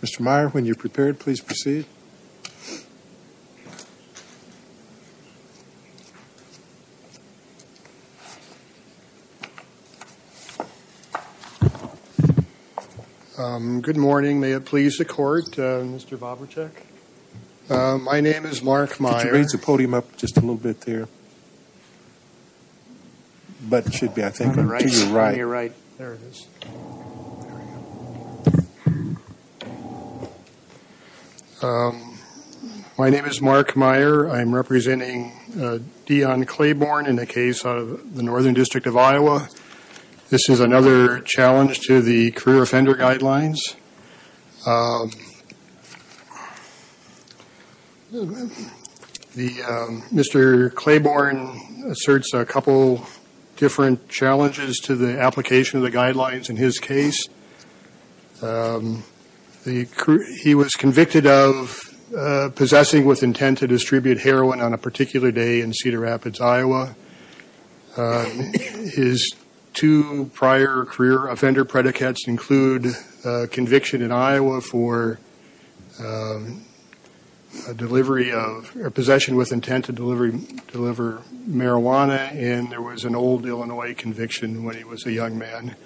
Mr. Meyer, when you're prepared, please proceed. Good morning. May it please the Court, Mr. Bobracek. My name is Mark Meyer. Could you raise the podium up just a little bit there? But it should be, I think, to your right. My name is Mark Meyer. I'm representing Dion Clayborn in the case of the Northern District of Iowa. This is another challenge to the career offender guidelines. Mr. Clayborn asserts a couple different challenges to the application of the guidelines in his case. He was convicted of possessing with intent to distribute heroin on a particular day in Cedar Rapids, Iowa. His two prior career offender predicates include conviction in Iowa for possession with intent to deliver marijuana, and there was an old Illinois conviction when he was a young man.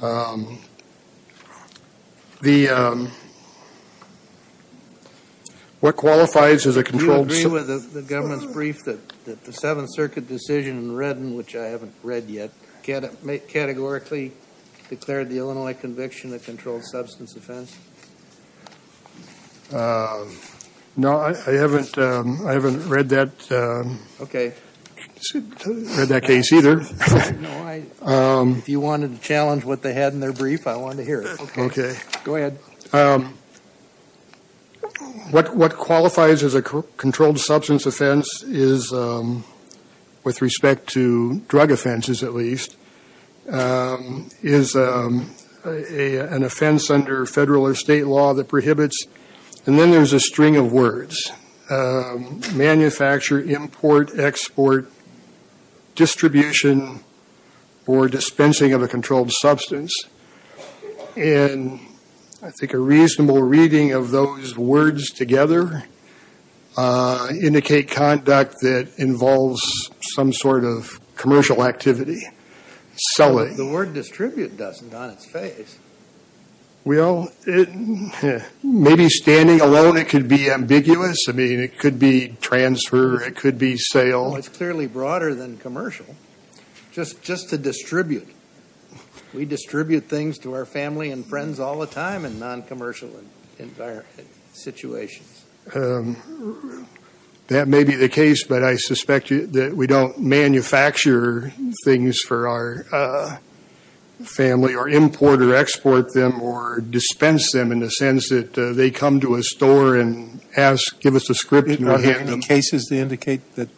Do you agree with the government's brief that the Seventh Circuit decision in Redden, which I haven't read yet, categorically declared the Illinois conviction a controlled substance offense? No, I haven't read that case either. If you wanted to challenge what they had in their brief, I wanted to hear it. Okay. Go ahead. What qualifies as a controlled substance offense is, with respect to drug offenses at least, is an offense under federal or state law that prohibits, and then there's a string of words, manufacture, import, export, distribution, or dispensing of a controlled substance. I think a reasonable reading of those words together indicate conduct that involves some sort of commercial activity, selling. The word distribute doesn't on its face. Well, maybe standing alone it could be ambiguous. I mean, it could be transfer, it could be sale. It's clearly broader than commercial. Just to distribute. We distribute things to our family and friends all the time in non-commercial situations. That may be the case, but I suspect that we don't manufacture things for our family or import or export them or dispense them in the sense that they come to a store and ask, give us a script and we'll hand them. Any cases that indicate that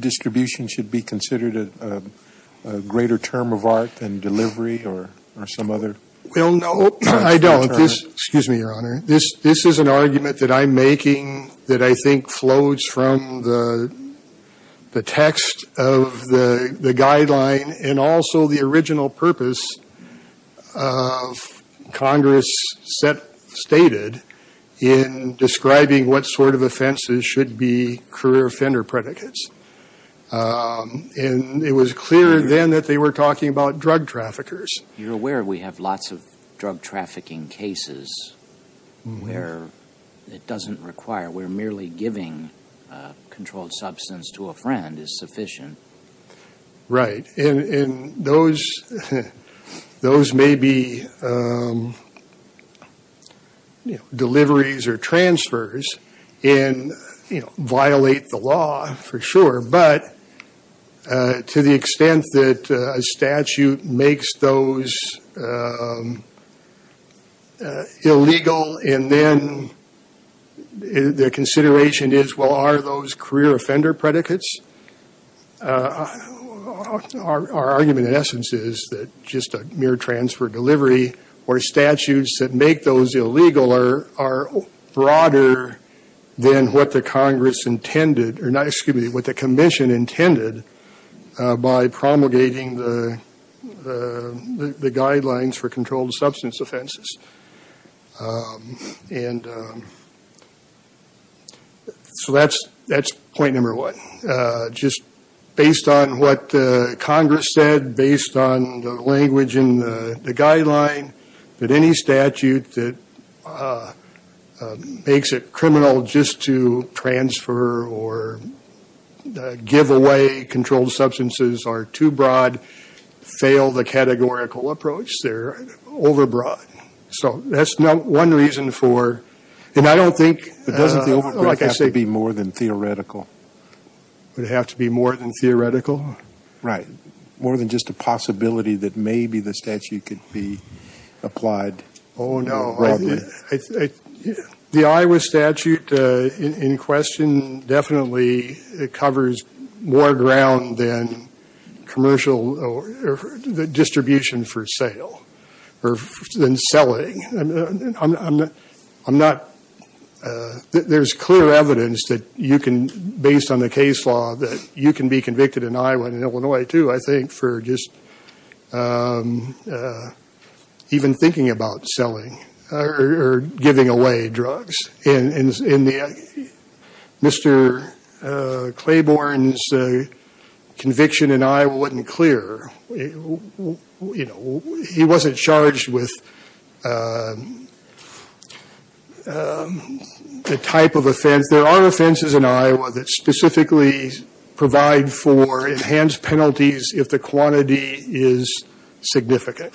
distribution should be considered a greater term of art than delivery or some other? Well, no, I don't. Excuse me, Your Honor. This is an argument that I'm making that I think flows from the text of the guideline and also the original purpose of Congress stated in describing what sort of offenses should be career offender predicates. And it was clear then that they were talking about drug traffickers. You're aware we have lots of drug trafficking cases where it doesn't require, where merely giving a controlled substance to a friend is sufficient. Right. And those may be deliveries or transfers and violate the law for sure. But to the extent that a statute makes those illegal and then the consideration is, well, are those career offender predicates? Our argument in essence is that just a mere transfer delivery or statutes that make those illegal are broader than what the Congress intended or not, excuse me, what the commission intended by promulgating the guidelines for controlled substance offenses. And so that's point number one. Just based on what Congress said, based on the language in the guideline, that any statute that makes it criminal just to transfer or give away controlled substances are too broad, fail the categorical approach, they're overbroad. So that's one reason for, and I don't think, like I said. But doesn't the overbroad have to be more than theoretical? Would it have to be more than theoretical? Right. More than just a possibility that maybe the statute could be applied. Oh, no. The Iowa statute in question definitely covers more ground than commercial or the distribution for sale or than selling. I'm not, there's clear evidence that you can, based on the case law, that you can be convicted in Iowa and Illinois too, I think, for just even thinking about selling or giving away drugs. And Mr. Claiborne's conviction in Iowa wasn't clear. You know, he wasn't charged with the type of offense. There are offenses in Iowa that specifically provide for enhanced penalties if the quantity is significant.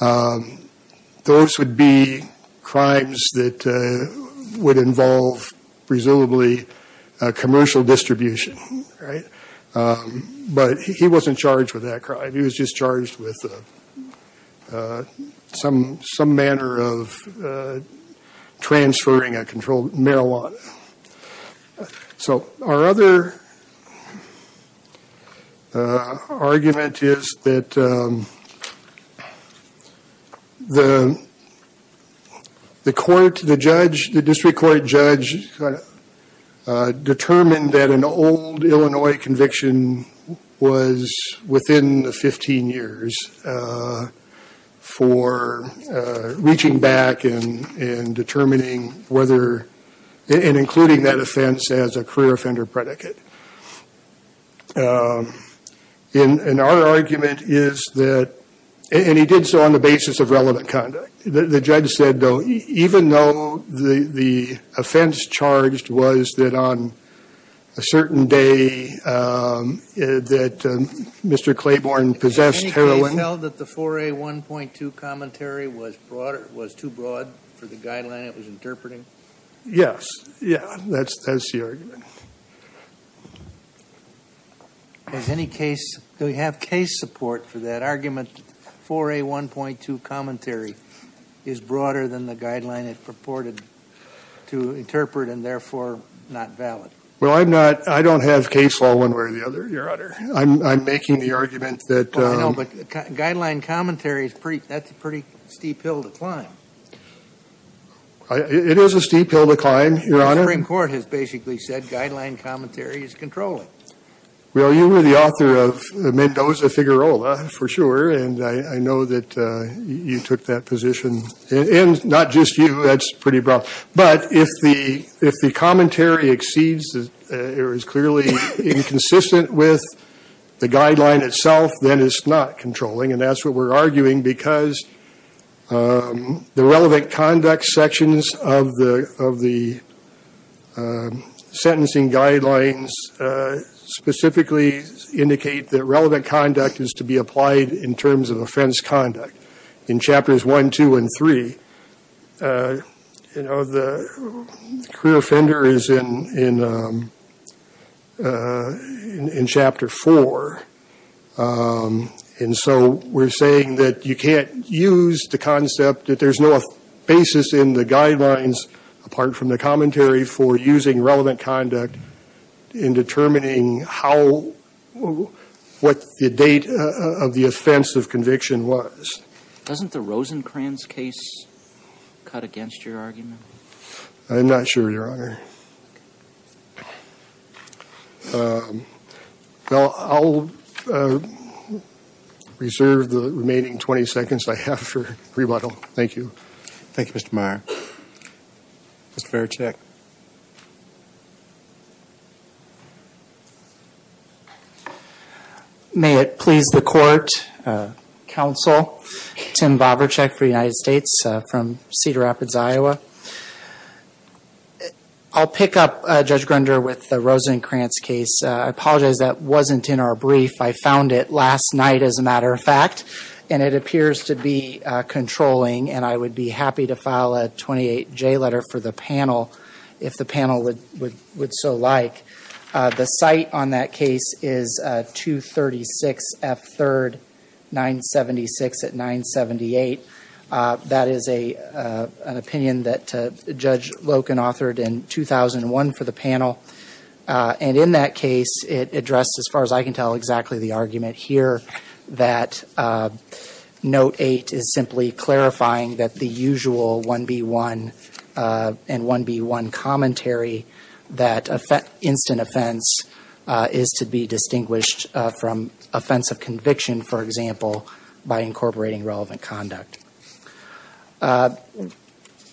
Those would be crimes that would involve presumably commercial distribution, right? But he wasn't charged with that crime. He was just charged with some manner of transferring a controlled marijuana. So, our other argument is that the court, the judge, the district court judge determined that an old Illinois conviction was within the 15 years for reaching back and determining whether, and including that offense as a career offender predicate. And our argument is that, and he did so on the basis of relevant conduct. The judge said, though, even though the offense charged was that on a certain day that Mr. Claiborne possessed heroin. They felt that the 4A1.2 commentary was too broad for the guideline it was interpreting? Yes. Yeah, that's the argument. Do we have case support for that argument 4A1.2 commentary is broader than the guideline it purported to interpret and therefore not valid? Well, I don't have case law one way or the other, Your Honor. I'm making the argument that. I know, but guideline commentary, that's a pretty steep hill to climb. It is a steep hill to climb, Your Honor. The Supreme Court has basically said guideline commentary is controlling. Well, you were the author of Mendoza Figueroa, for sure. And I know that you took that position. And not just you, that's pretty broad. But if the commentary exceeds or is clearly inconsistent with the guideline itself, then it's not controlling. And that's what we're arguing because the relevant conduct sections of the sentencing guidelines specifically indicate that relevant conduct is to be applied in terms of offense conduct. In chapters 1, 2, and 3, the career offender is in chapter 4. And so we're saying that you can't use the concept that there's no basis in the guidelines apart from the commentary for using relevant conduct in determining what the date of the offense of conviction was. Doesn't the Rosencrantz case cut against your argument? I'm not sure, Your Honor. Well, I'll reserve the remaining 20 seconds I have for rebuttal. Thank you. Thank you, Mr. Meyer. Mr. Verchek. May it please the court, counsel, Tim Verchek for the United States from Cedar Rapids, Iowa. I'll pick up, Judge Grunder, with the Rosencrantz case. I apologize that wasn't in our brief. I found it last night as a matter of fact. And it appears to be controlling. And I would be happy to file a 28-J letter for the panel if the panel would so like. The site on that case is 236 F 3rd, 976 at 978. That is an opinion that Judge Loken authored in 2001 for the panel. And in that case, it addressed, as far as I can tell, exactly the argument here that Note 8 is simply clarifying that the usual 1B1 and 1B1 commentary, that instant offense is to be distinguished from offense of conviction, for example, by incorporating relevant conduct.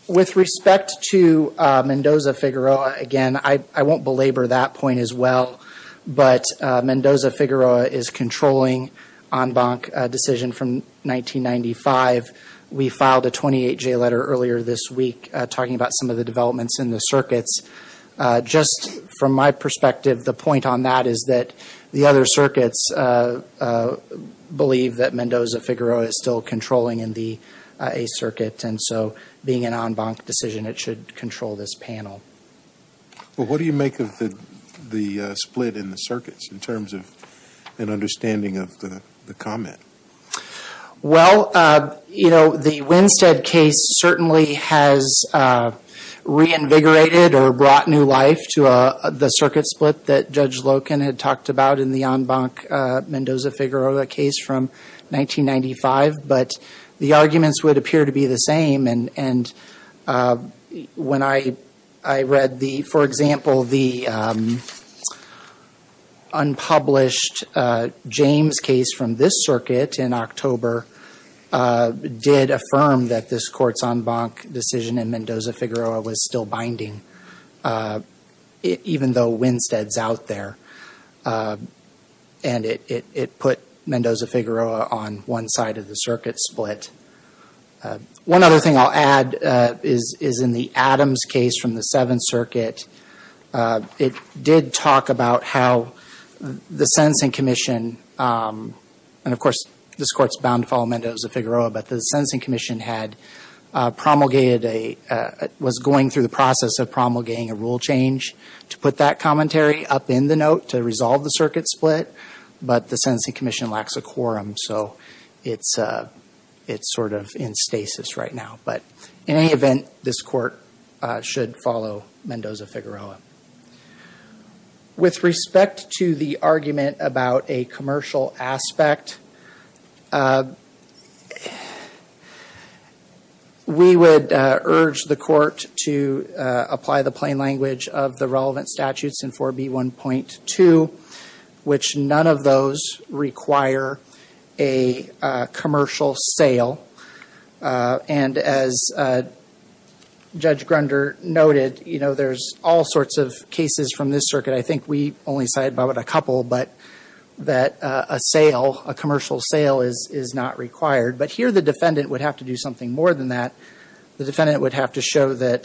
With respect to Mendoza-Figueroa, again, I won't belabor that point as well. But Mendoza-Figueroa is controlling en banc decision from 1995. We filed a 28-J letter earlier this week talking about some of the developments in the circuits. Just from my perspective, the point on that is that the other circuits believe that Mendoza-Figueroa is still controlling in the A circuit. And so being an en banc decision, it should control this panel. Well, what do you make of the split in the circuits in terms of an understanding of the comment? Well, you know, the Winstead case certainly has reinvigorated or brought new life to the circuit split that Judge Loken had talked about in the en banc Mendoza-Figueroa case from 1995, but the arguments would appear to be the same. And when I read the, for example, the unpublished James case from this circuit in October did affirm that this courts en banc decision in Mendoza-Figueroa was still binding, even though Winstead's out there. And it put Mendoza-Figueroa on one side of the circuit split. One other thing I'll add is in the Adams case from the Seventh Circuit, it did talk about how the Sentencing Commission, and of course, this court's bound to follow Mendoza-Figueroa, but the Sentencing Commission had promulgated a, was going through the process of promulgating a rule change to put that commentary up in the note to resolve the circuit split, but the Sentencing Commission lacks a quorum. So it's sort of in stasis right now. But in any event, this court should follow Mendoza-Figueroa. With respect to the argument about a commercial aspect, we would urge the court to apply the plain language of the relevant statutes in 4B1.2, which none of those require a commercial sale. And as Judge Grunder noted, you know, there's all sorts of cases from this circuit. I think we only cited about a couple, but that a sale, a commercial sale is not required. But here the defendant would have to do something more than that. The defendant would have to show that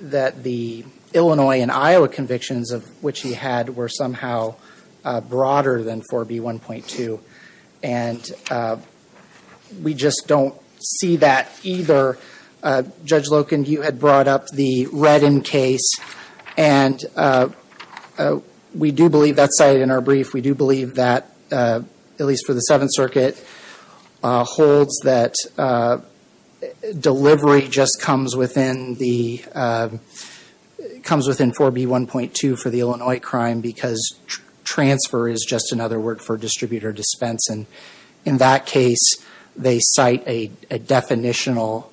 the Illinois and Iowa convictions of which he had were somehow broader than 4B1.2. And we just don't see that either. Judge Loken, you had brought up the Redden case, and we do believe that's cited in our brief. We do believe that, at least for the Seventh Circuit, holds that delivery just comes within 4B1.2 for the Illinois crime because transfer is just another word for distributor dispense. And in that case, they cite a definitional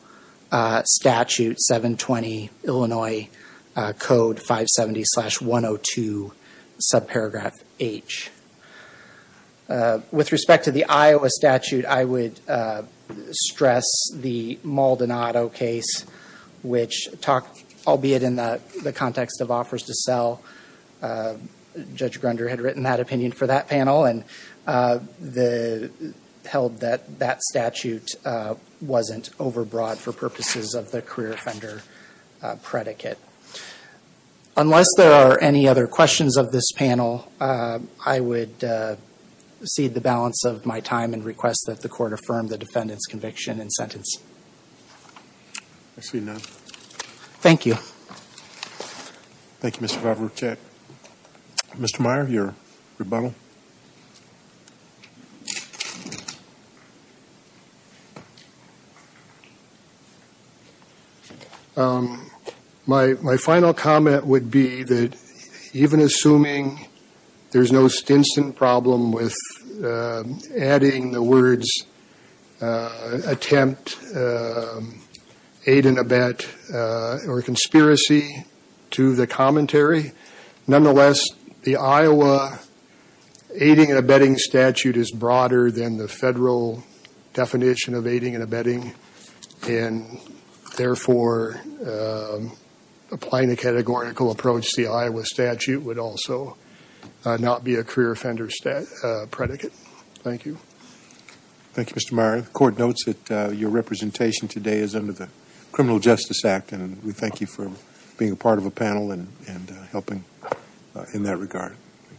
statute, 720 Illinois Code 570-102, subparagraph H. With respect to the Iowa statute, I would stress the Maldonado case, which talked, albeit in the context of offers to sell, Judge Grunder had written that opinion for that panel and held that that statute wasn't overbroad for purposes of the career offender predicate. Unless there are any other questions of this panel, I would cede the balance of my time and request that the court affirm the defendant's conviction and sentence. I see none. Thank you. Thank you, Mr. Vavrochet. Mr. Meyer, your rebuttal. My final comment would be that even assuming there's no stinson problem with adding the words attempt, aid and abet, or conspiracy to the commentary, nonetheless, the Iowa aiding and abetting statute is broader than the federal definition of aiding and abetting. And therefore, applying a categorical approach to the Iowa statute would also not be a career offender predicate. Thank you. Thank you, Mr. Meyer. The court notes that your representation today is under the Criminal Justice Act. And we thank you for being a part of a panel and helping in that regard.